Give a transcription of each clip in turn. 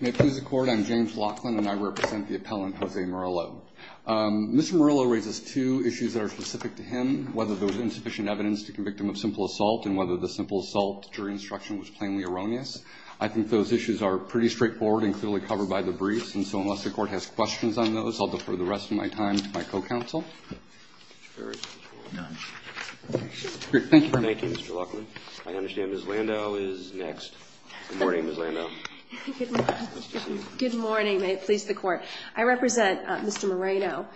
May it please the Court, I'm James Laughlin, and I represent the appellant Jose Murillo. Mr. Murillo raises two issues that are specific to him, whether there was insufficient evidence to convict him of simple assault and whether the simple assault jury instruction was plainly erroneous. I think those issues are pretty straightforward and clearly covered by the briefs, and so unless the Court has questions on those, I'll defer the rest of my time to my co-counsel. Thank you, Mr. Laughlin. I understand Ms. Landau is next. Good morning, Ms. Landau. Good morning. May it please the Court. I represent Mr. Moreno,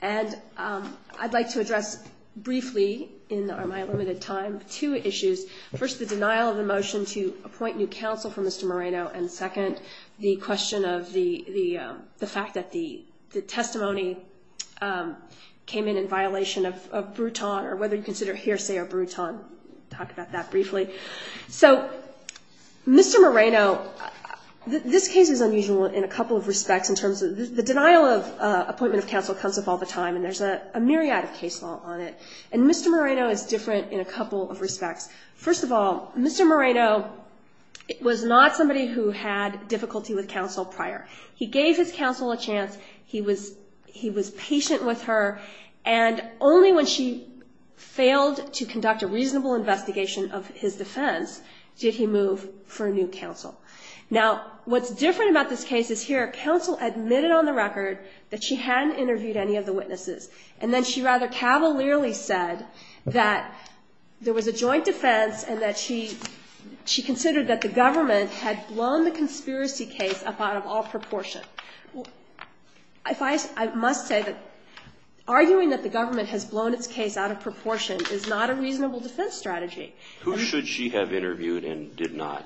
and I'd like to address briefly in my limited time two issues. First, the denial of the motion to appoint new counsel for Mr. Moreno, and second, the question of the fact that the testimony came in in violation of Bruton, or whether you consider hearsay of Bruton. Talk about that briefly. So, Mr. Moreno, this case is unusual in a couple of respects. The denial of appointment of counsel comes up all the time, and there's a myriad of case law on it, and Mr. Moreno is different in a couple of respects. First of all, Mr. Moreno was not somebody who had difficulty with counsel prior. He gave his counsel a chance. He was patient with her, and only when she failed to conduct a reasonable investigation of his defense did he move for a new counsel. Now, what's different about this case is here, counsel admitted on the record that she hadn't interviewed any of the witnesses, and then she rather cavalierly said that there was a joint defense and that she considered that the government had blown the conspiracy case up out of all proportion. I must say that arguing that the government has blown its case out of proportion is not a reasonable defense strategy. Who should she have interviewed and did not?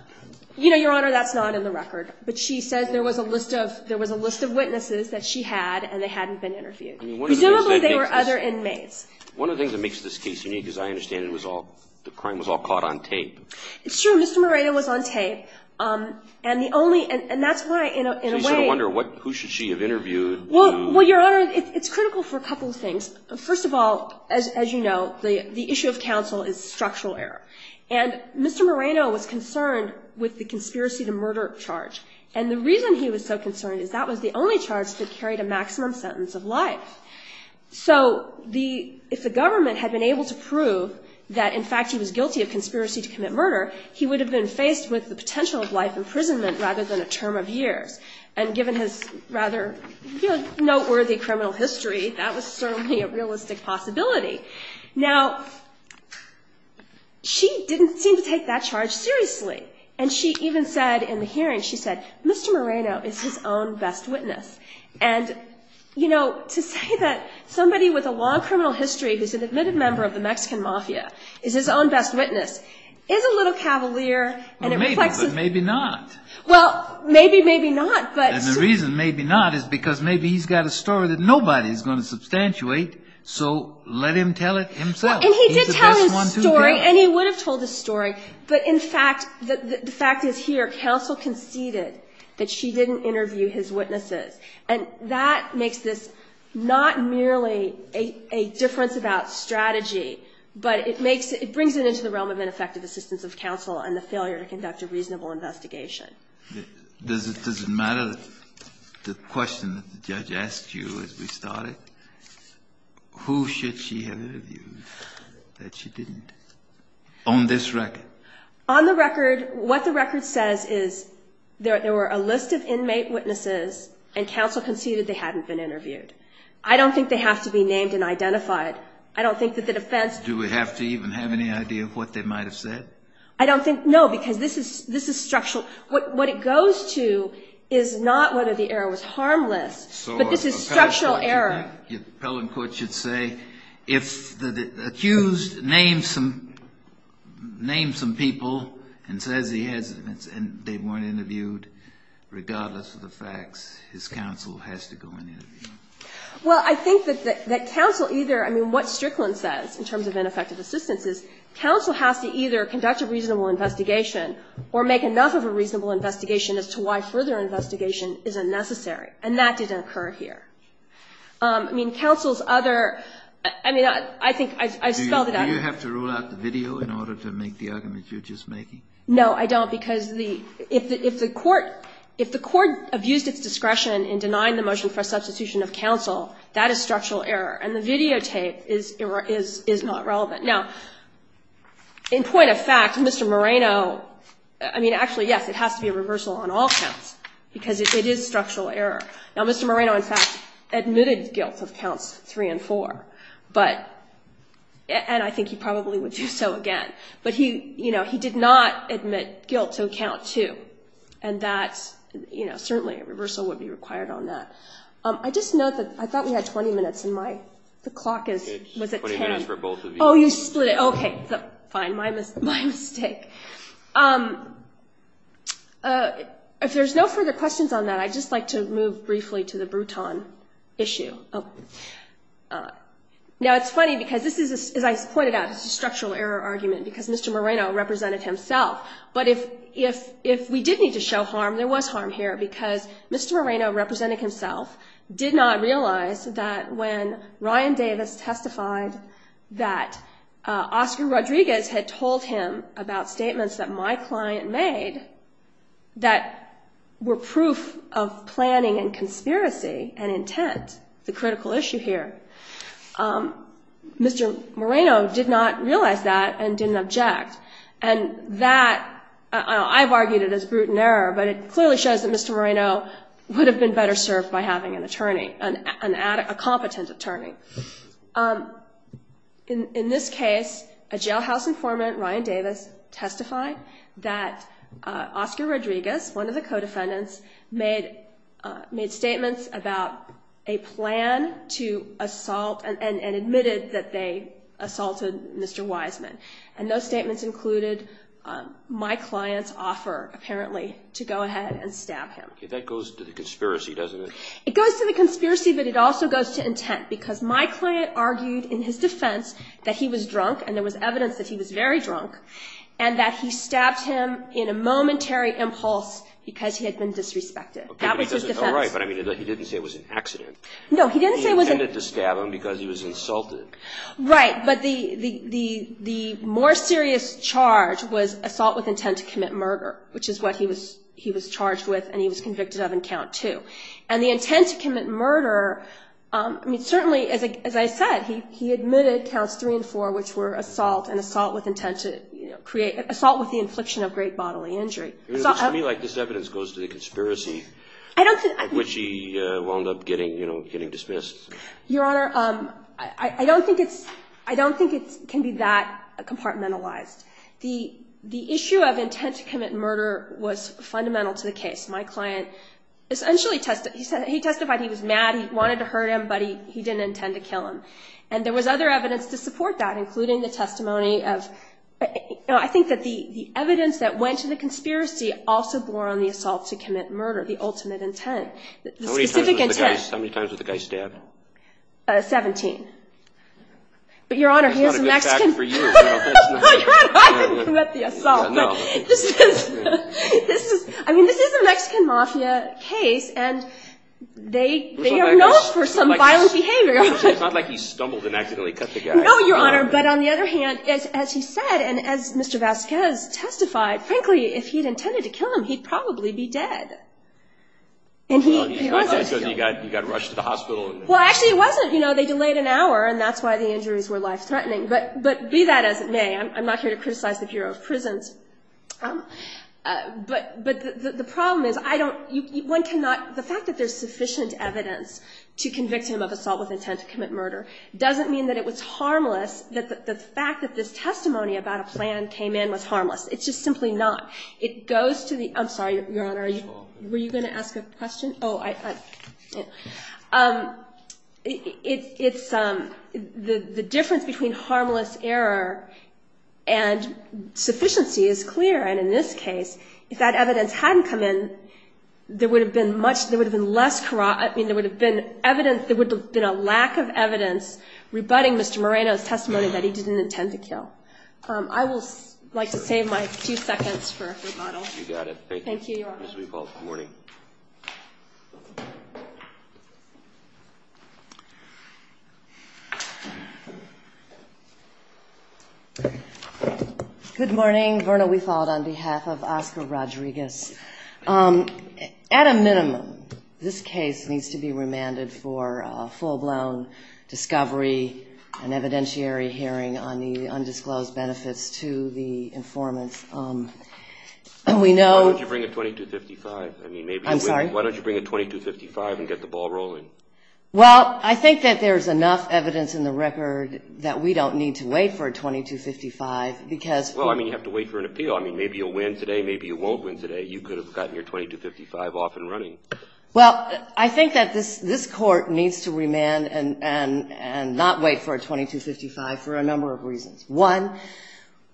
You know, Your Honor, that's not in the record. But she says there was a list of witnesses that she had and they hadn't been interviewed. Presumably, they were other inmates. One of the things that makes this case unique, as I understand it, was the crime was all caught on tape. It's true. Mr. Moreno was on tape, and the only – and that's why, in a way – So you sort of wonder who should she have interviewed to – Well, Your Honor, it's critical for a couple of things. First of all, as you know, the issue of counsel is structural error. And Mr. Moreno was concerned with the conspiracy to murder charge. And the reason he was so concerned is that was the only charge that carried a maximum sentence of life. So if the government had been able to prove that, in fact, he was guilty of conspiracy to commit murder, he would have been faced with the potential of life imprisonment rather than a term of years. And given his rather noteworthy criminal history, that was certainly a realistic possibility. Now, she didn't seem to take that charge seriously. And she even said in the hearing, she said, Mr. Moreno is his own best witness. And, you know, to say that somebody with a long criminal history who's an admitted member of the Mexican mafia is his own best witness is a little cavalier. Maybe, but maybe not. Well, maybe, maybe not. And the reason maybe not is because maybe he's got a story that nobody's going to substantiate, so let him tell it himself. And he did tell his story, and he would have told his story. But in fact, the fact is here, counsel conceded that she didn't interview his witnesses. And that makes this not merely a difference about strategy, but it makes it brings it into the realm of ineffective assistance of counsel and the failure to conduct a reasonable investigation. Does it matter that the question that the judge asked you as we started, who should she have interviewed that she didn't? On this record? On the record, what the record says is there were a list of inmate witnesses, and counsel conceded they hadn't been interviewed. I don't think they have to be named and identified. I don't think that the defense... Do we have to even have any idea of what they might have said? I don't think, no, because this is structural. What it goes to is not whether the error was harmless, but this is structural error. Your appellate court should say, if the accused names some people and says he hasn't, and they weren't interviewed, regardless of the facts, his counsel has to go and interview them. Well, I think that counsel either, I mean, what Strickland says, in terms of ineffective assistance, is counsel has to either conduct a reasonable investigation or make enough of a reasonable investigation as to why further investigation is unnecessary, and that didn't occur here. I mean, counsel's other, I mean, I think I spelled it out. Do you have to rule out the video in order to make the argument you're just making? No, I don't, because the, if the court, if the court abused its discretion in denying the motion for a substitution of counsel, that is structural error. And the videotape is not relevant. Now, in point of fact, Mr. Moreno, I mean, actually, yes, it has to be a reversal on all counts, because it is structural error. Now, Mr. Moreno, in fact, admitted guilt of counts 3 and 4, but, and I think he probably would do so again, but he, you know, he did not admit guilt to count 2, and that's, you know, certainly a reversal would be required on that. I just note that I thought we had 20 minutes, and my, the clock is, was it 10? It's 20 minutes for both of you. Oh, you split it, okay. Fine, my mistake. If there's no further questions on that, I'd just like to move briefly to the Bruton issue. Now, it's funny, because this is, as I pointed out, it's a structural error argument, because Mr. Moreno represented himself. But if we did need to show harm, there was harm here, because Mr. Moreno, representing himself, did not realize that when Ryan Davis testified that Oscar Rodriguez had told him about statements that my client made that were proof of planning and conspiracy and intent, the critical issue here, Mr. Moreno did not realize that and didn't object. And that, I've argued it as Bruton error, but it clearly shows that Mr. Moreno would have been better served by having an attorney, a competent attorney. In this case, a jailhouse informant, Ryan Davis, testified that Oscar Rodriguez, one of the co-defendants, made statements about a plan to assault and admitted that they assaulted Mr. Wiseman. And those statements included my client's offer, apparently, to go ahead and stab him. Okay, that goes to the conspiracy, doesn't it? It goes to the conspiracy, but it also goes to intent, because my client argued in his defense that he was drunk, and there was evidence that he was very drunk, and that he stabbed him in a momentary impulse because he had been disrespected. That was his defense. Okay, but he didn't say it was an accident. No, he didn't say it was an... He intended to stab him because he was insulted. Right, but the more serious charge was assault with intent to commit murder, which is what he was charged with and he was convicted of in Count 2. And the intent to commit murder, I mean, certainly, as I said, he admitted Counts 3 and 4, which were assault and assault with intent to create, assault with the infliction of great bodily injury. It looks to me like this evidence goes to the conspiracy, which he wound up getting dismissed. Your Honor, I don't think it's, I don't think it can be that compartmentalized. The issue of intent to commit murder was fundamental to the case. My client essentially testified, he testified he was mad, he wanted to hurt him, but he didn't intend to kill him. And there was other evidence to support that, including the testimony of, I think that the evidence that went to the conspiracy also bore on the assault to commit murder, the ultimate intent, the specific intent. How many times was the guy stabbed? Seventeen. But, Your Honor, he is a Mexican. That's not a good fact for you. No, Your Honor, I didn't commit the assault. No. This is, I mean, this is a Mexican mafia case and they are known for some violent behavior. It's not like he stumbled and accidentally cut the guy. No, Your Honor, but on the other hand, as he said and as Mr. Vasquez testified, frankly, if he had intended to kill him, he'd probably be dead. Well, he got rushed to the hospital. Well, actually it wasn't, you know, they delayed an hour and that's why the injuries were life-threatening. But be that as it may, I'm not here to criticize the Bureau of Prisons, but the problem is I don't, one cannot, the fact that there's sufficient evidence to convict him of assault with intent to commit murder doesn't mean that it was harmless, that the fact that this testimony about a plan came in was harmless. It's just simply not. It goes to the, I'm sorry, Your Honor. Were you going to ask a question? Oh, I, it's, the difference between harmless error and sufficiency is clear. And in this case, if that evidence hadn't come in, there would have been much, there would have been less, I mean, there would have been evidence, there would have been a lack of evidence rebutting Mr. Moreno's testimony that he didn't intend to kill. I would like to save my few seconds for rebuttal. You got it. Thank you. Thank you, Your Honor. Good morning. Good morning. Verna, we followed on behalf of Oscar Rodriguez. At a minimum, this case needs to be remanded for a full-blown discovery and evidentiary hearing on the undisclosed benefits to the informant. We know Why don't you bring a 2255? I'm sorry? Why don't you bring a 2255 and get the ball rolling? Well, I think that there's enough evidence in the record that we don't need to wait for a 2255 because Well, I mean, you have to wait for an appeal. I mean, maybe you'll win today, maybe you won't win today. You could have gotten your 2255 off and running. Well, I think that this Court needs to remand and not wait for a 2255 for a number of reasons. One,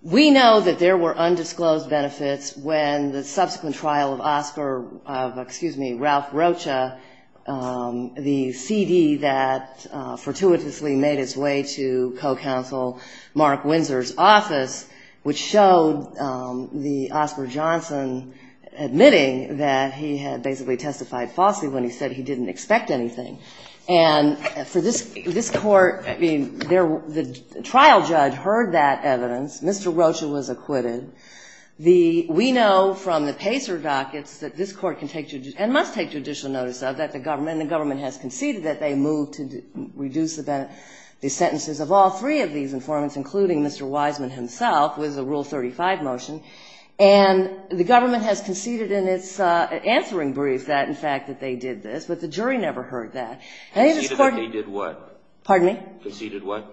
we know that there were undisclosed benefits when the subsequent trial of Oscar of, excuse me, Ralph Rocha, the CD that fortuitously made its way to co-counsel Mark Windsor's office, which showed the Oscar Johnson admitting that he had basically testified falsely when he said he didn't expect anything. And for this Court, I mean, the trial judge heard that evidence. Mr. Rocha was acquitted. We know from the Pacer dockets that this Court can take and must take judicial notice of that the government, and the government has conceded that they moved to reduce the sentences of all three of these informants, including Mr. Wiseman himself, with the Rule 35 motion. And the government has conceded in its answering brief that, in fact, that they did this. But the jury never heard that. And this Court ---- Conceded that they did what? Pardon me? Conceded what?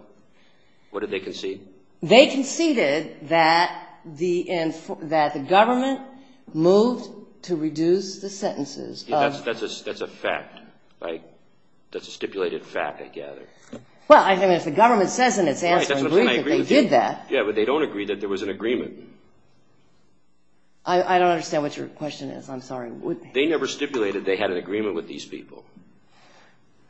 What did they concede? They conceded that the government moved to reduce the sentences of ---- That's a fact, right? That's a stipulated fact, I gather. Well, I mean, if the government says in its answering brief that they did that ---- Yeah, but they don't agree that there was an agreement. I don't understand what your question is. I'm sorry. They never stipulated they had an agreement with these people.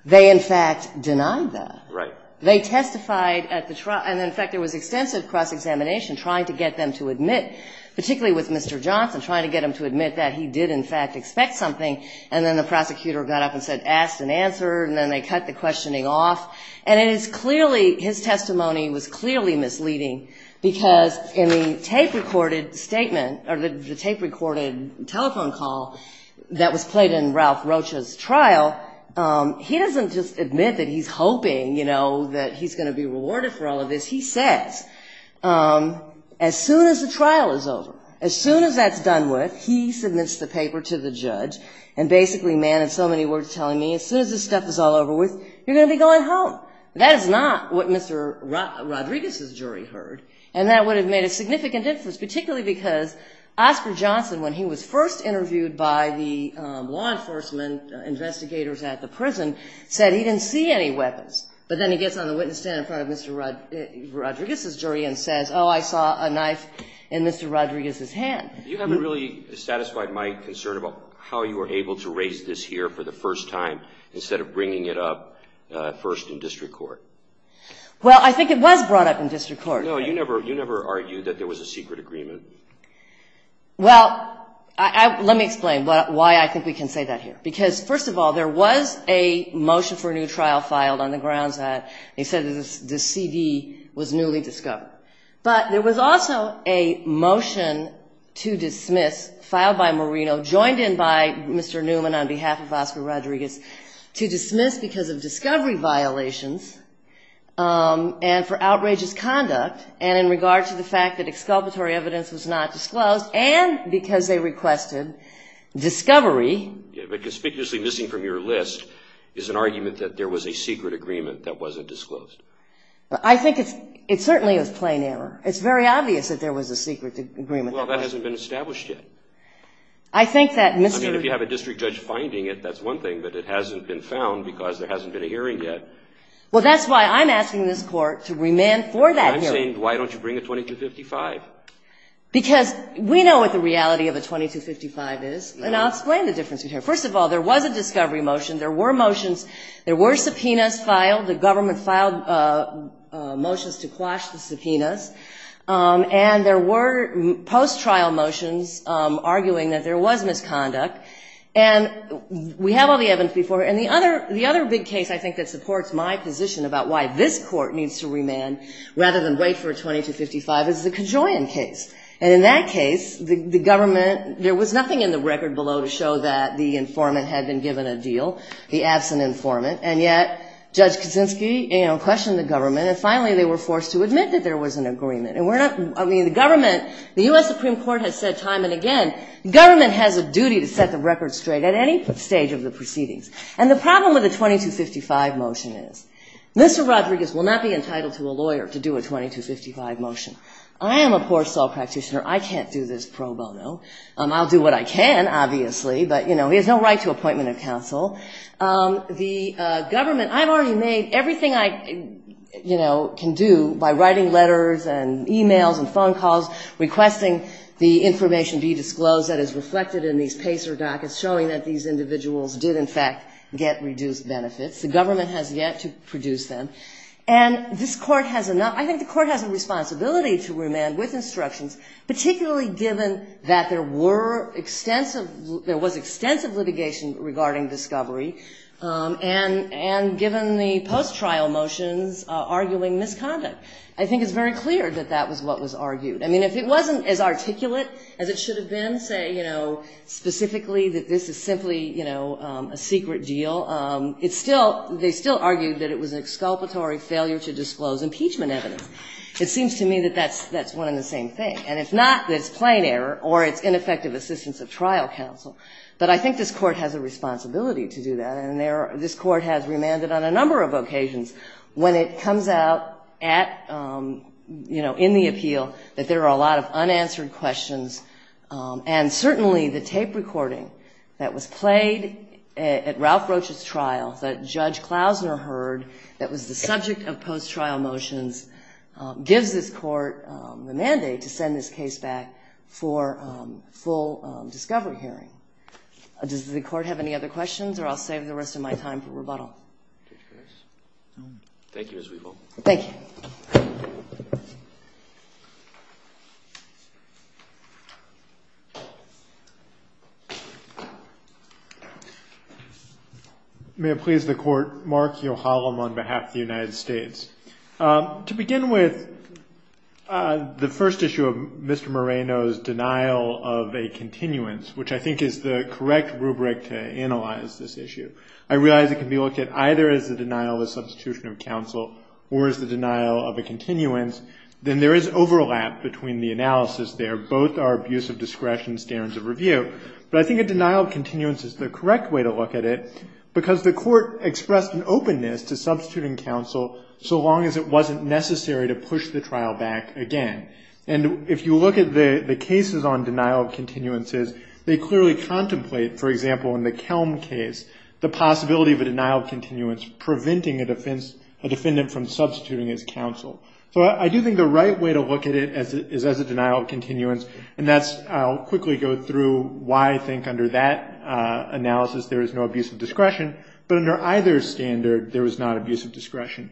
They, in fact, denied that. Right. They testified at the trial. And, in fact, there was extensive cross-examination trying to get them to admit, particularly with Mr. Johnson, trying to get him to admit that he did, in fact, expect something, and then the prosecutor got up and said, ask and answer, and then they cut the questioning off. And it is clearly, his testimony was clearly misleading, because in the tape-recorded telephone call that was played in Ralph Rocha's trial, he doesn't just admit that he's hoping, you know, that he's going to be rewarded for all of this. He says, as soon as the trial is over, as soon as that's done with, he submits the paper to the judge, and basically, man, it's so many words telling me, as soon as this stuff is all over with, you're going to be going home. That is not what Mr. Rodriguez's jury heard, and that would have made a significant difference, particularly because Oscar Johnson, when he was first interviewed by the law enforcement investigators at the prison, said he didn't see any weapons. But then he gets on the witness stand in front of Mr. Rodriguez's jury and says, oh, I saw a knife in Mr. Rodriguez's hand. You haven't really satisfied my concern about how you were able to raise this here for the first time, instead of bringing it up first in district court. Well, I think it was brought up in district court. No, you never argued that there was a secret agreement. Well, let me explain why I think we can say that here. Because, first of all, there was a motion for a new trial filed on the grounds that they said the CD was newly discovered. But there was also a motion to dismiss filed by Marino, joined in by Mr. Newman on behalf of Oscar Rodriguez, to dismiss because of discovery violations and for outrageous conduct, and in regard to the fact that exculpatory evidence was not disclosed, and because they requested discovery. But conspicuously missing from your list is an argument that there was a secret agreement that wasn't disclosed. I think it's certainly a plain error. It's very obvious that there was a secret agreement. Well, that hasn't been established yet. I think that Mr. I mean, if you have a district judge finding it, that's one thing. But it hasn't been found because there hasn't been a hearing yet. Well, that's why I'm asking this Court to remand for that hearing. I'm saying, why don't you bring a 2255? Because we know what the reality of a 2255 is, and I'll explain the difference in here. First of all, there was a discovery motion. There were motions. There were subpoenas filed. The government filed motions to quash the subpoenas. And there were post-trial motions arguing that there was misconduct. And we have all the evidence before us. And the other big case, I think, that supports my position about why this Court needs to remand rather than wait for a 2255 is the Kajoyan case. And in that case, the government, there was nothing in the record below to show that the informant had been given a deal, the absent informant. And yet Judge Kaczynski, you know, questioned the government, and finally they were forced to admit that there was an agreement. And we're not, I mean, the government, the U.S. Supreme Court has said time and again, the government has a duty to set the record straight at any stage of the proceedings. And the problem with the 2255 motion is Mr. Rodriguez will not be entitled to a lawyer to do a 2255 motion. I am a poor soul practitioner. I can't do this pro bono. I'll do what I can, obviously, but, you know, he has no right to appointment of counsel. The government, I've already made everything I, you know, can do by writing letters and e-mails and phone calls requesting the information be disclosed that is reflected in these PACER dockets showing that these individuals did, in fact, get reduced benefits. The government has yet to produce them. And this Court has enough, I think the Court has a responsibility to remand with instructions, particularly given that there were extensive, there was extensive litigation regarding discovery, and given the post-trial motions arguing misconduct. I think it's very clear that that was what was argued. I mean, if it wasn't as articulate as it should have been, say, you know, specifically that this is simply, you know, a secret deal, it's still, they still argued that it was an exculpatory failure to disclose impeachment evidence. It seems to me that that's one and the same thing. And if not, it's plain error or it's ineffective assistance of trial counsel. But I think this Court has a responsibility to do that. And this Court has remanded on a number of occasions when it comes out at, you know, there are a lot of unanswered questions. And certainly the tape recording that was played at Ralph Roach's trial, that Judge Klausner heard, that was the subject of post-trial motions, gives this Court the mandate to send this case back for full discovery hearing. Does the Court have any other questions? Thank you, Ms. Weevil. Thank you. May it please the Court. Mark Yohalam on behalf of the United States. To begin with, the first issue of Mr. Moreno's denial of a continuance, which I think is the correct rubric to analyze this issue. I realize it can be looked at either as the denial of a substitution of counsel or as the denial of a continuance. Then there is overlap between the analysis there. Both are abuse of discretion standards of review. But I think a denial of continuance is the correct way to look at it because the Court expressed an openness to substituting counsel so long as it wasn't necessary to push the trial back again. And if you look at the cases on denial of continuances, they clearly contemplate, for example, in the Kelm case, the possibility of a denial of continuance preventing a defendant from substituting his counsel. So I do think the right way to look at it is as a denial of continuance. And I'll quickly go through why I think under that analysis there is no abuse of discretion. But under either standard, there is not abuse of discretion.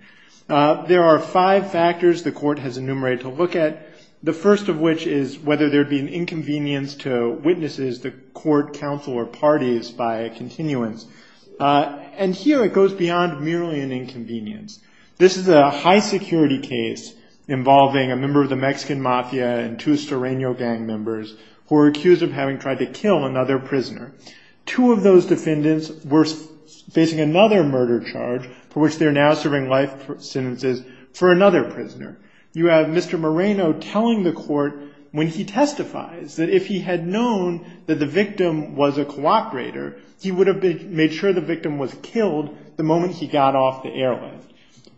There are five factors the Court has enumerated to look at, the first of which is whether there would be an inconvenience to witnesses, the Court, counsel, or parties by a continuance. And here it goes beyond merely an inconvenience. This is a high-security case involving a member of the Mexican Mafia and two Serrano gang members who are accused of having tried to kill another prisoner. Two of those defendants were facing another murder charge for which they are now serving life sentences for another prisoner. You have Mr. Moreno telling the Court when he testifies that if he had known that the victim was a cooperator, he would have made sure the victim was killed the moment he got off the airline.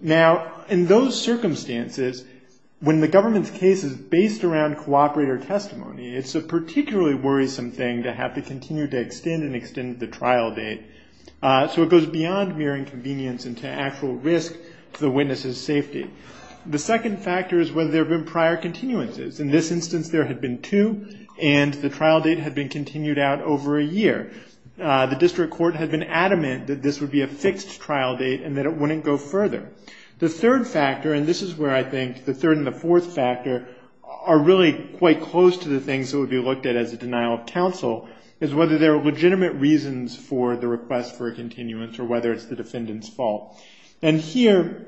Now, in those circumstances, when the government's case is based around cooperator testimony, it's a particularly worrisome thing to have to continue to extend and extend the trial date. So it goes beyond mere inconvenience into actual risk to the witness's safety. The second factor is whether there have been prior continuances. In this instance, there had been two, and the trial date had been continued out over a year. The district court had been adamant that this would be a fixed trial date and that it wouldn't go further. The third factor, and this is where I think the third and the fourth factor are really quite close to the things that would be looked at as a denial of counsel, is whether there are legitimate reasons for the request for a continuance or whether it's the defendant's fault. And here,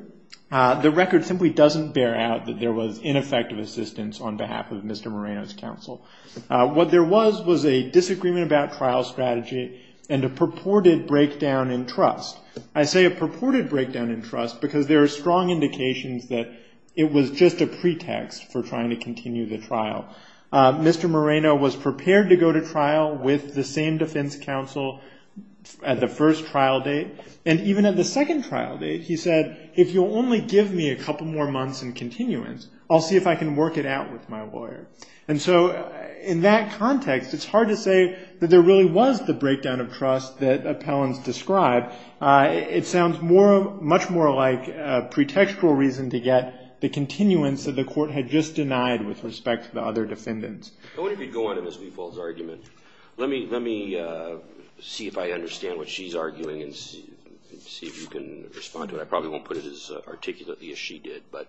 the record simply doesn't bear out that there was ineffective assistance on behalf of Mr. Moreno's counsel. What there was was a disagreement about trial strategy and a purported breakdown in trust. I say a purported breakdown in trust because there are strong indications that it was just a pretext for trying to continue the trial. Mr. Moreno was prepared to go to trial with the same defense counsel at the first trial date. And even at the second trial date, he said, if you'll only give me a couple more months in continuance, I'll see if I can work it out with my lawyer. And so in that context, it's hard to say that there really was the breakdown of trust that appellants described. It sounds much more like a pretextual reason to get the continuance that the court had just denied with respect to the other defendants. I wonder if you'd go on to Ms. Weeple's argument. Let me see if I understand what she's arguing and see if you can respond to it. I probably won't put it as articulately as she did. But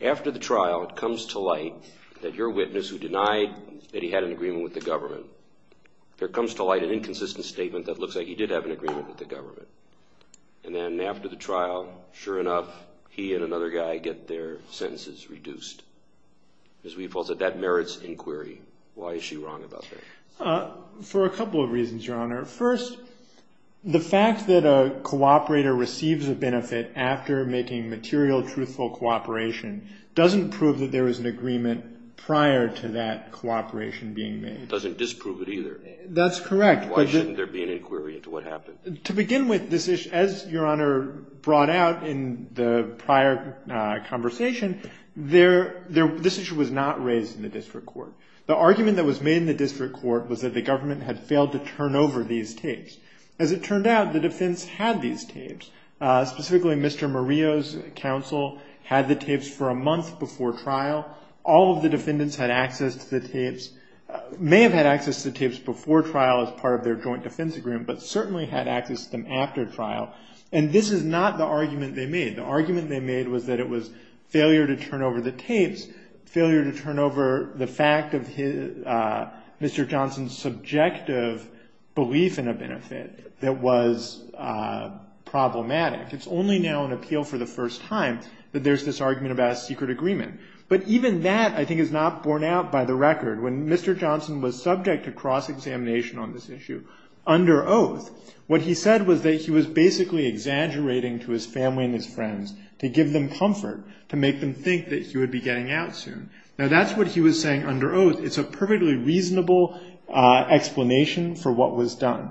after the trial, it comes to light that your witness who denied that he had an agreement with the government, there comes to light an inconsistent statement that looks like he did have an agreement with the government. And then after the trial, sure enough, he and another guy get their sentences reduced. Ms. Weeple said that merits inquiry. Why is she wrong about that? For a couple of reasons, Your Honor. First, the fact that a cooperator receives a benefit after making material truthful cooperation doesn't prove that there was an agreement prior to that cooperation being made. It doesn't disprove it either. That's correct. Why shouldn't there be an inquiry into what happened? To begin with, as Your Honor brought out in the prior conversation, this issue was not raised in the district court. The argument that was made in the district court was that the government had failed to turn over these tapes. As it turned out, the defense had these tapes. Specifically, Mr. Murillo's counsel had the tapes for a month before trial. All of the defendants had access to the tapes, may have had access to tapes before trial as part of their joint defense agreement, but certainly had access to them after trial. And this is not the argument they made. The argument they made was that it was failure to turn over the tapes, failure to turn over the fact of Mr. Johnson's subjective belief in a benefit that was problematic. It's only now in appeal for the first time that there's this argument about a secret agreement. But even that, I think, is not borne out by the record. When Mr. Johnson was subject to cross-examination on this issue under oath, what he said was that he was basically exaggerating to his family and his friends to give them comfort, to make them think that he would be getting out soon. Now that's what he was saying under oath. It's a perfectly reasonable explanation for what was done.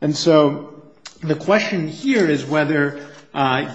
And so the question here is whether,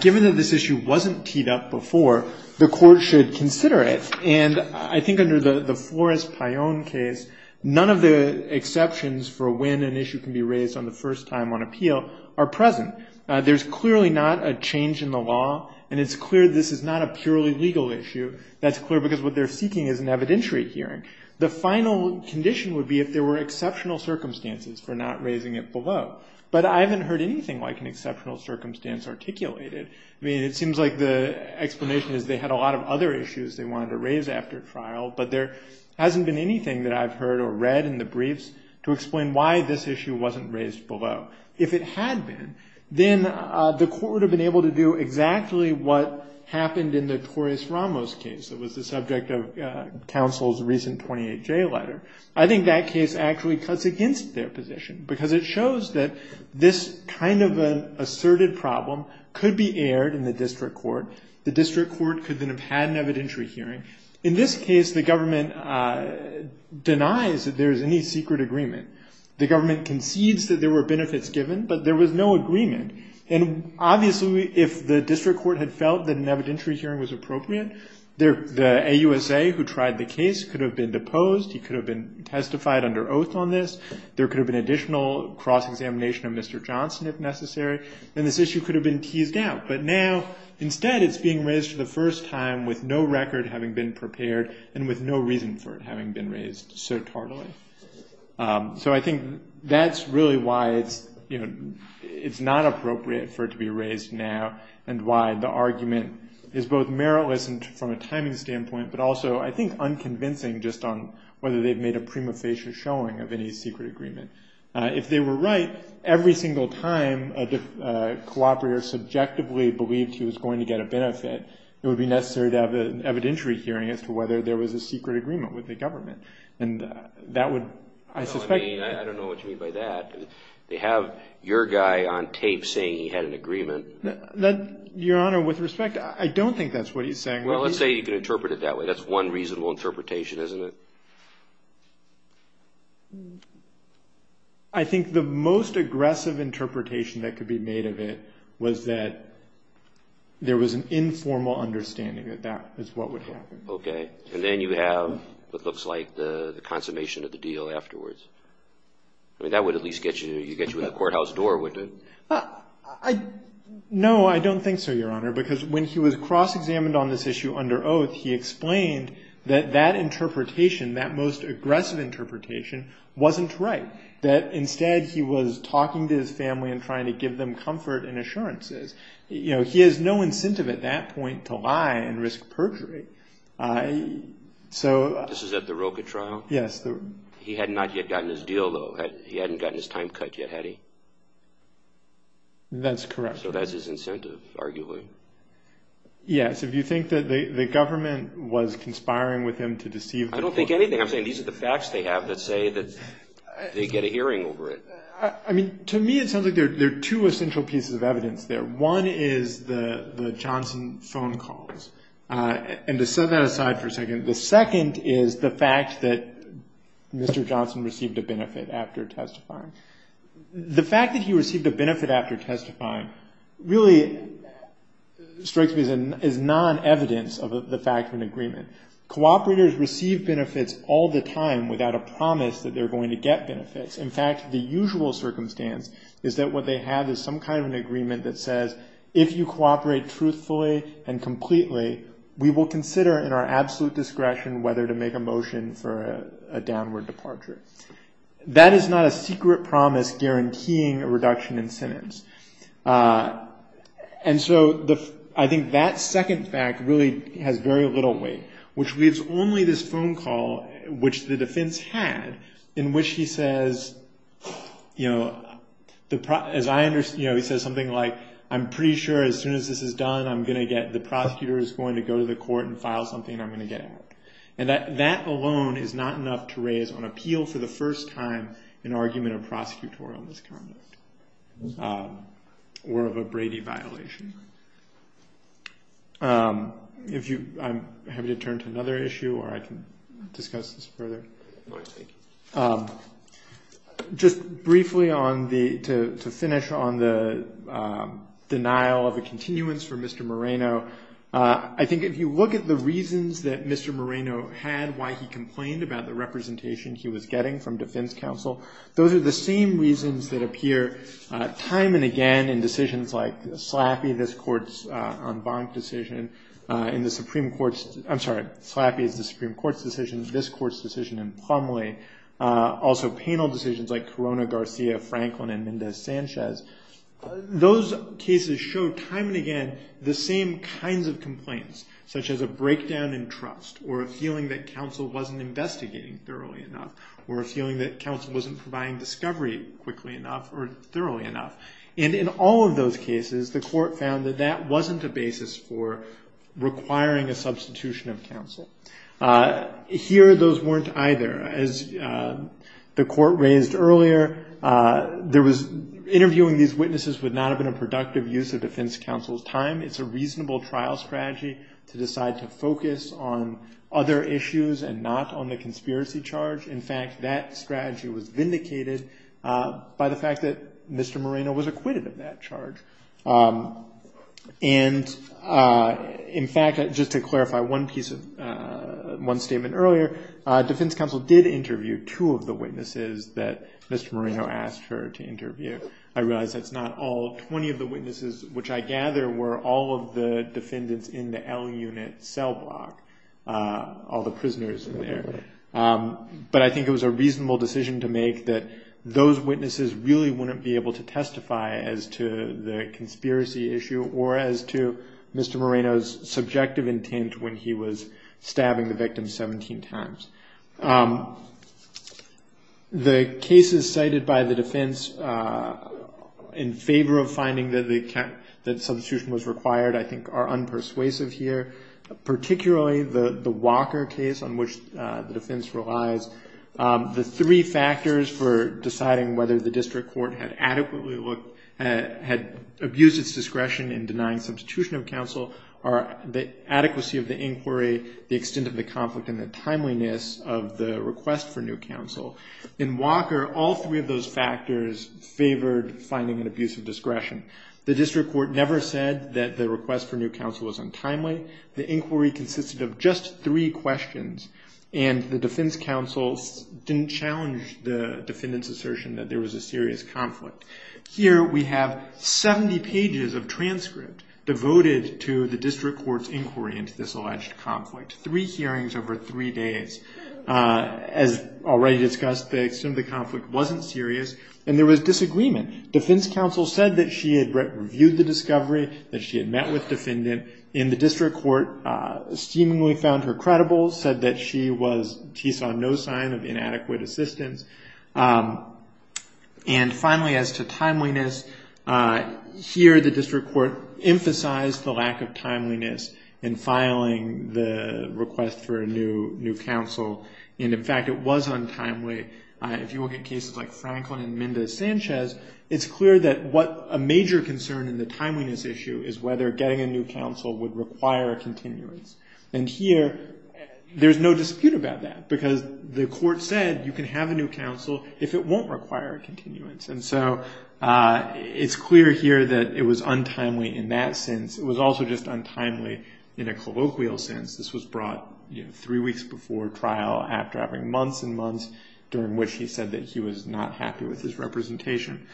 given that this issue wasn't teed up before, the court should consider it. And I think under the Flores-Payon case, none of the exceptions for when an issue can be raised on the first time on appeal are present. There's clearly not a change in the law, and it's clear this is not a purely legal issue. That's clear because what they're seeking is an evidentiary hearing. The final condition would be if there were exceptional circumstances for not raising it below. But I haven't heard anything like an exceptional circumstance articulated. I mean, it seems like the explanation is they had a lot of other issues they wanted to raise after trial, but there hasn't been anything that I've heard or read in the briefs to explain why this issue wasn't raised below. If it had been, then the court would have been able to do exactly what happened in the Torres-Ramos case that was the subject of counsel's recent 28-J letter. I think that case actually cuts against their position because it shows that this kind of an asserted problem could be aired in the district court. The district court could then have had an evidentiary hearing. In this case, the government denies that there is any secret agreement. The government concedes that there were benefits given, but there was no agreement. Obviously, if the district court had felt that an evidentiary hearing was appropriate, the AUSA who tried the case could have been deposed. He could have been testified under oath on this. There could have been additional cross-examination of Mr. Johnson if necessary. Then this issue could have been teased out. But now, instead it's being raised for the first time with no record having been prepared and with no reason for it having been raised so tardily. I think that's really why it's not appropriate for it to be raised now and why the argument is both meritless from a timing standpoint, but also I think unconvincing just on whether they've made a prima facie showing of any secret agreement. If they were right, every single time a cooperator subjectively believed he was going to get a benefit, it would be necessary to have an evidentiary hearing as to whether there was a secret agreement with the government. And that would, I suspect... I don't know what you mean by that. They have your guy on tape saying he had an agreement. Your Honor, with respect, I don't think that's what he's saying. Well, let's say you can interpret it that way. That's one reasonable interpretation, isn't it? I think the most aggressive interpretation that could be made of it was that there was an informal understanding that that is what would happen. Okay. And then you have what looks like the consummation of the deal afterwards. I mean, that would at least get you in the courthouse door, wouldn't it? No, I don't think so, Your Honor, because when he was cross-examined on this issue under oath, he explained that that interpretation, that most aggressive interpretation, wasn't right. That instead he was talking to his family and trying to give them comfort and assurances. He has no incentive at that point to lie and risk perjury. This is at the Roka trial? Yes. He had not yet gotten his deal, though. He hadn't gotten his time cut yet, had he? That's correct. So that's his incentive, arguably. Yes. If you think that the government was conspiring with him to deceive the court. I don't think anything. I'm saying these are the facts they have that say that they get a hearing over it. I mean, to me it sounds like there are two essential pieces of evidence there. One is the Johnson phone calls. And to set that aside for a second, the second is the fact that Mr. Johnson received a benefit after testifying. The fact that he received a benefit after testifying really strikes me as non-evidence of the fact of an agreement. Cooperators receive benefits all the time without a promise that they're going to get benefits. In fact, the usual circumstance is that what they have is some kind of an agreement that says, if you cooperate truthfully and completely, we will consider in our absolute discretion, whether to make a motion for a downward departure. That is not a secret promise guaranteeing a reduction in sentence. And so I think that second fact really has very little weight, which leaves only this phone call, which the defense had in which he says, you know, as I understand, he says something like, I'm pretty sure as soon as this is done, I'm going to get, the prosecutor is going to go to the court and file something, and I'm going to get out. And that alone is not enough to raise on appeal for the first time an argument of prosecutorial misconduct or of a Brady violation. I'm happy to turn to another issue, or I can discuss this further. Just briefly on the, to finish on the denial of a continuance for Mr. Moreno. I think if you look at the reasons that Mr. Moreno had, why he complained about the representation he was getting from defense counsel, those are the same reasons that appear time and again in decisions like slappy, this court's on bond decision in the Supreme court. I'm sorry. Slappy is the Supreme court's decision. This court's decision in Plumlee also penal decisions like Corona Garcia, Franklin, and Minda Sanchez. Those cases show time and again, the same kinds of complaints, such as a breakdown in trust or a feeling that counsel wasn't investigating thoroughly enough, or a feeling that counsel wasn't providing discovery quickly enough or thoroughly enough. And in all of those cases, the court found that that wasn't a basis for requiring a substitution of counsel. Here, those weren't either as the court raised earlier. There was interviewing. These witnesses would not have been a productive use of defense counsel's time. It's a reasonable trial strategy to decide to focus on other issues and not on the conspiracy charge. In fact, that strategy was vindicated by the fact that Mr. Moreno was acquitted of that charge. And in fact, just to clarify one piece of one statement earlier, defense counsel did interview two of the witnesses that Mr. Moreno asked her to interview. I realized that's not all 20 of the witnesses, which I gather were all of the defendants in the L unit cell block. All the prisoners in there. But I think it was a reasonable decision to make that those witnesses really wouldn't be able to testify as to the conspiracy issue or as to Mr. Moreno's subjective intent. When he was stabbing the victim 17 times the cases cited by the defense in favor of finding that they kept that substitution was required. I think are unpersuasive here, particularly the Walker case on which the defense relies. The three factors for deciding whether the district court had adequately looked at, had abused its discretion in denying substitution of counsel are the adequacy of the inquiry, the extent of the conflict and the timeliness of the request for new counsel in Walker. All three of those factors favored finding an abuse of discretion. The district court never said that the request for new counsel was untimely. The inquiry consisted of just three questions and the defense counsel didn't challenge the defendant's assertion that there was a serious conflict. Here we have 70 pages of transcript devoted to the district court's inquiry into this alleged conflict. Three hearings over three days. As already discussed, the extent of the conflict wasn't serious and there was disagreement. Defense counsel said that she had reviewed the discovery, that she had met with defendant in the district court, seemingly found her credible, said that she saw no sign of inadequate assistance. And finally, as to timeliness here, the district court emphasized the lack of timeliness in filing the request for a new new counsel. And in fact, it was untimely. If you look at cases like Franklin and Minda Sanchez, it's clear that what a major concern in the timeliness issue is whether getting a new counsel would require a continuance. And here there's no dispute about that because the court said you can have a new counsel if it won't require a continuance. And so it's clear here that it was untimely in that sense. It was also just untimely in a colloquial sense. This was brought three weeks before trial after having months and months during which he said that he was not happy with his representation.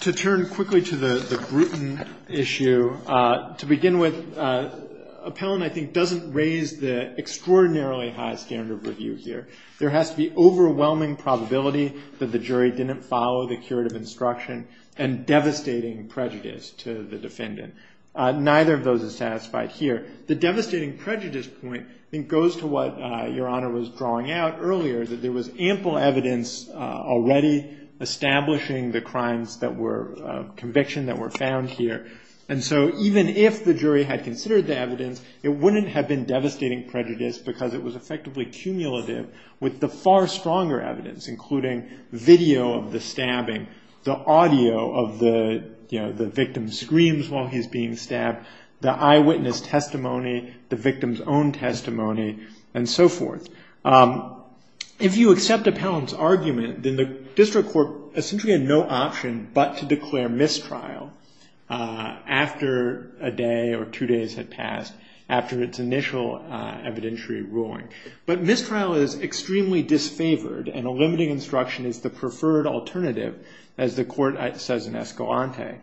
To turn quickly to the Bruton issue, to begin with Appellant, I think doesn't raise the extraordinarily high standard of review here. There has to be overwhelming probability that the jury didn't follow the curative instruction and devastating prejudice to the defendant. Neither of those is satisfied here. The devastating prejudice point, I think goes to what your honor was drawing out earlier, that there was ample evidence already establishing the crimes that were conviction that were found here. And so even if the jury had considered the evidence, it wouldn't have been devastating prejudice because it was effectively cumulative with the far stronger evidence, including video of the stabbing, the audio of the victim's screams while he's being stabbed, the eyewitness testimony, the victim's own testimony, and so forth. If you accept Appellant's argument, then the district court essentially had no option but to declare mistrial after a day or two days had passed, after its initial evidentiary ruling. But mistrial is extremely disfavored and a limiting instruction is the preferred alternative as the court says in Escalante.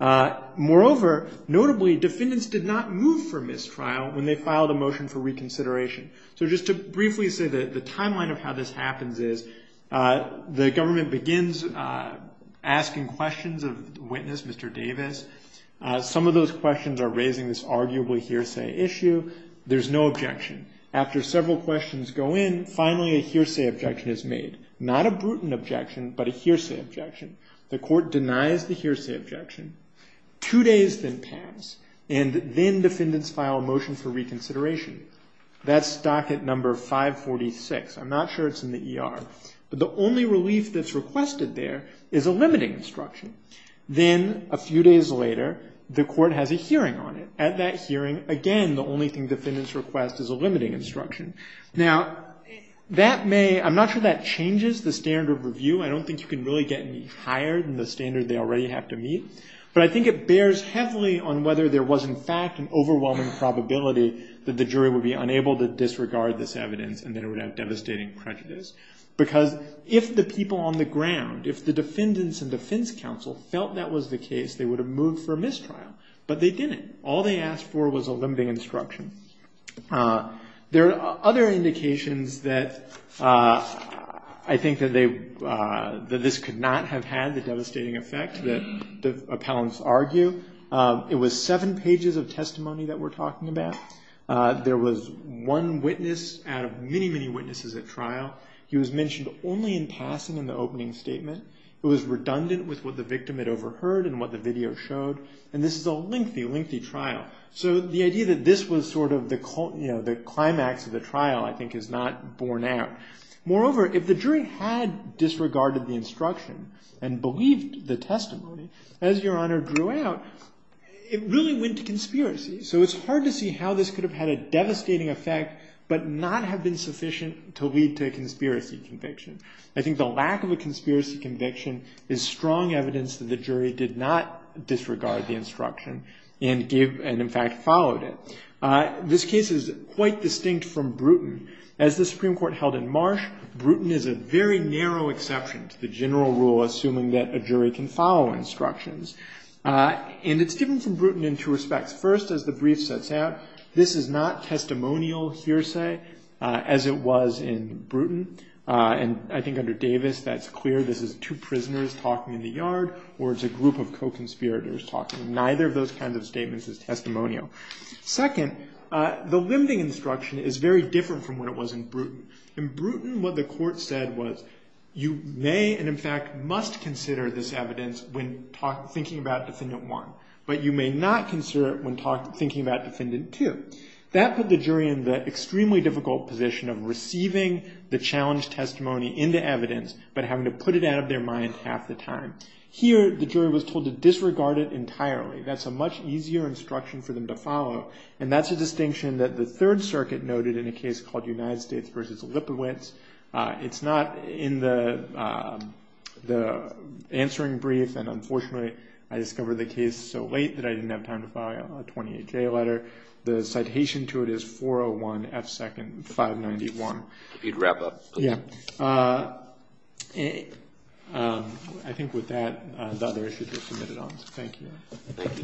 Moreover, notably, defendants did not move for mistrial when they filed a motion for reconsideration. So just to briefly say that the timeline of how this happens is the government begins asking questions of the witness, Mr. Davis. Some of those questions are raising this arguably hearsay issue. There's no objection. After several questions go in, finally a hearsay objection is made. Not a brutal objection, but a hearsay objection. The court denies the hearsay objection. Two days then pass and then defendants file a motion for reconsideration. That's docket number 546. I'm not sure it's in the ER. But the only relief that's requested there is a limiting instruction. Then a few days later the court has a hearing on it. At that hearing, again, the only thing defendants request is a limiting instruction. Now that may, I'm not sure that changes the standard of review. I don't think you can really get any higher than the standard they already have to meet. But I think it bears heavily on whether there was, in fact, an overwhelming probability that the jury would be unable to disregard this because if the people on the ground, if the defendants and defense counsel felt that was the case, they would have moved for a mistrial. But they didn't. All they asked for was a limiting instruction. There are other indications that I think that this could not have had the devastating effect that the appellants argue. It was seven pages of testimony that we're talking about. There was one witness out of many, many witnesses at trial. He was mentioned only in passing in the opening statement. It was redundant with what the victim had overheard and what the video showed. And this is a lengthy, lengthy trial. So the idea that this was sort of the climax of the trial, I think, is not borne out. Moreover, if the jury had disregarded the instruction and believed the testimony, as Your Honor drew out, it really went to conspiracy. So it's hard to see how this could have had a devastating effect but not have been sufficient to lead to a conspiracy conviction. I think the lack of a conspiracy conviction is strong evidence that the jury did not disregard the instruction and, in fact, followed it. This case is quite distinct from Bruton. As the Supreme Court held in Marsh, Bruton is a very narrow exception to the general rule, assuming that a jury can follow instructions. And it's different from Bruton in two respects. First, as the brief sets out, this is not testimonial hearsay, as it was in Bruton. And I think under Davis that's clear. This is two prisoners talking in the yard, or it's a group of co-conspirators talking. Neither of those kinds of statements is testimonial. Second, the limiting instruction is very different from what it was in Bruton. In Bruton, what the court said was, you may and, in fact, must consider this evidence when thinking about Defendant 1. But you may not consider it when thinking about Defendant 2. That put the jury in the extremely difficult position of receiving the challenged testimony into evidence, but having to put it out of their mind half the time. Here, the jury was told to disregard it entirely. That's a much easier instruction for them to follow. And that's a distinction that the Third Circuit noted in a case called United States v. Lipowitz. It's not in the answering brief, and unfortunately, I discovered the case so late that I didn't have time to file a 28-J letter. The citation to it is 401 F. Second 591. If you'd wrap up, please. I think with that, the other issues are submitted on. Thank you. Thank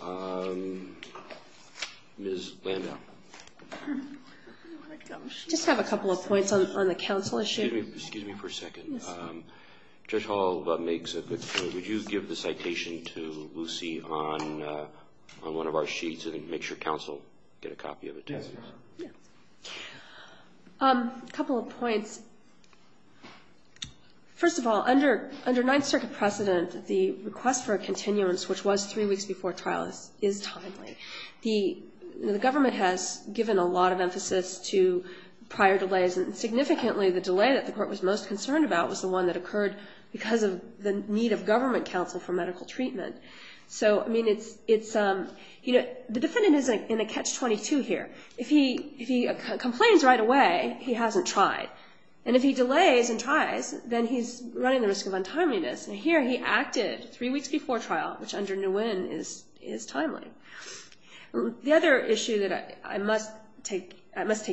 you. Ms. Landau. Excuse me for a second. Yes. Judge Hall makes a good point. Would you give the citation to Lucy on one of our sheets and make sure counsel get a copy of it, please? Yes. A couple of points. First of all, under Ninth Circuit precedent, the request for a continuance, which was three weeks before trial, is timely. The government has given a lot of emphasis to prior delays, and significantly, the delay that the court was most concerned about was the one that occurred because of the need of government counsel for medical treatment. The defendant is in a catch-22 here. If he complains right away, he hasn't tried. And if he delays and tries, then he's running the risk of untimeliness. And here, he acted three weeks before trial, which under Nguyen is timely. The other issue that I must take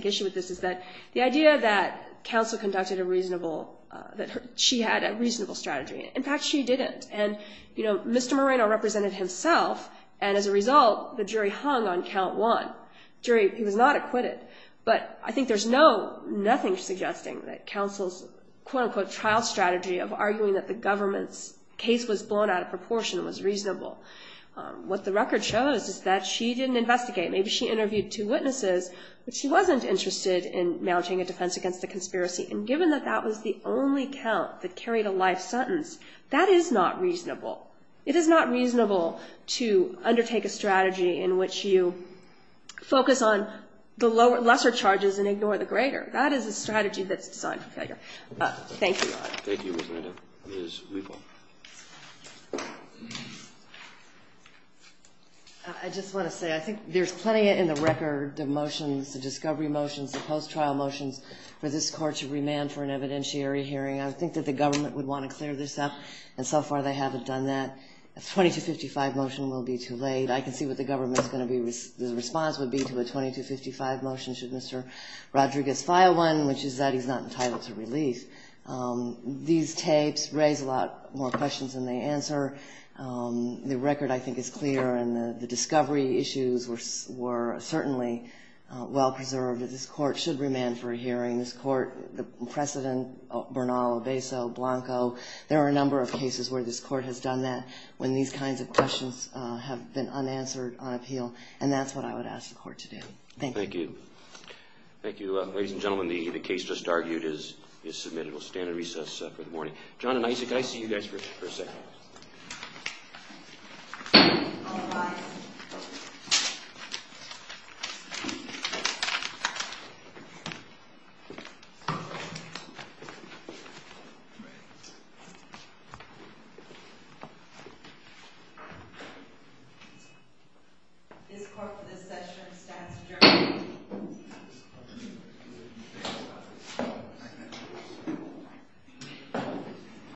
issue with this is that the idea that counsel conducted a reasonable, that she had a reasonable strategy. In fact, she didn't. And, you know, Mr. Moreno represented himself, and as a result, the jury hung on count one. The jury was not acquitted. But I think there's nothing suggesting that counsel's, quote-unquote, trial strategy of arguing that the government's case was blown out of proportion was reasonable. What the record shows is that she didn't investigate. Maybe she interviewed two witnesses, but she wasn't interested in mounting a defense against the conspiracy. And given that that was the only count that carried a life sentence, that is not reasonable. It is not reasonable to undertake a strategy in which you focus on the lesser charges and ignore the greater. That is a strategy that's designed for failure. Thank you, Your Honor. Thank you, Ms. Moreno. Ms. Wiebel. I just want to say I think there's plenty in the record of motions, the discovery motions, the post-trial motions, for this court to remand for an evidentiary hearing. I think that the government would want to clear this up, and so far they haven't done that. A 2255 motion will be too late. I can see what the government's going to be, the response would be to a 2255 motion should Mr. Rodriguez file one, These tapes raise a lot of questions. More questions than they answer. The record, I think, is clear, and the discovery issues were certainly well-preserved. This court should remand for a hearing. This court, the precedent, Bernal, Obeso, Blanco, there are a number of cases where this court has done that when these kinds of questions have been unanswered on appeal, and that's what I would ask the court to do. Thank you. Thank you. Thank you, ladies and gentlemen. The case just argued is submitted. We'll stand at recess for the morning. John and Isaac, I see you guys for a second. Thank you.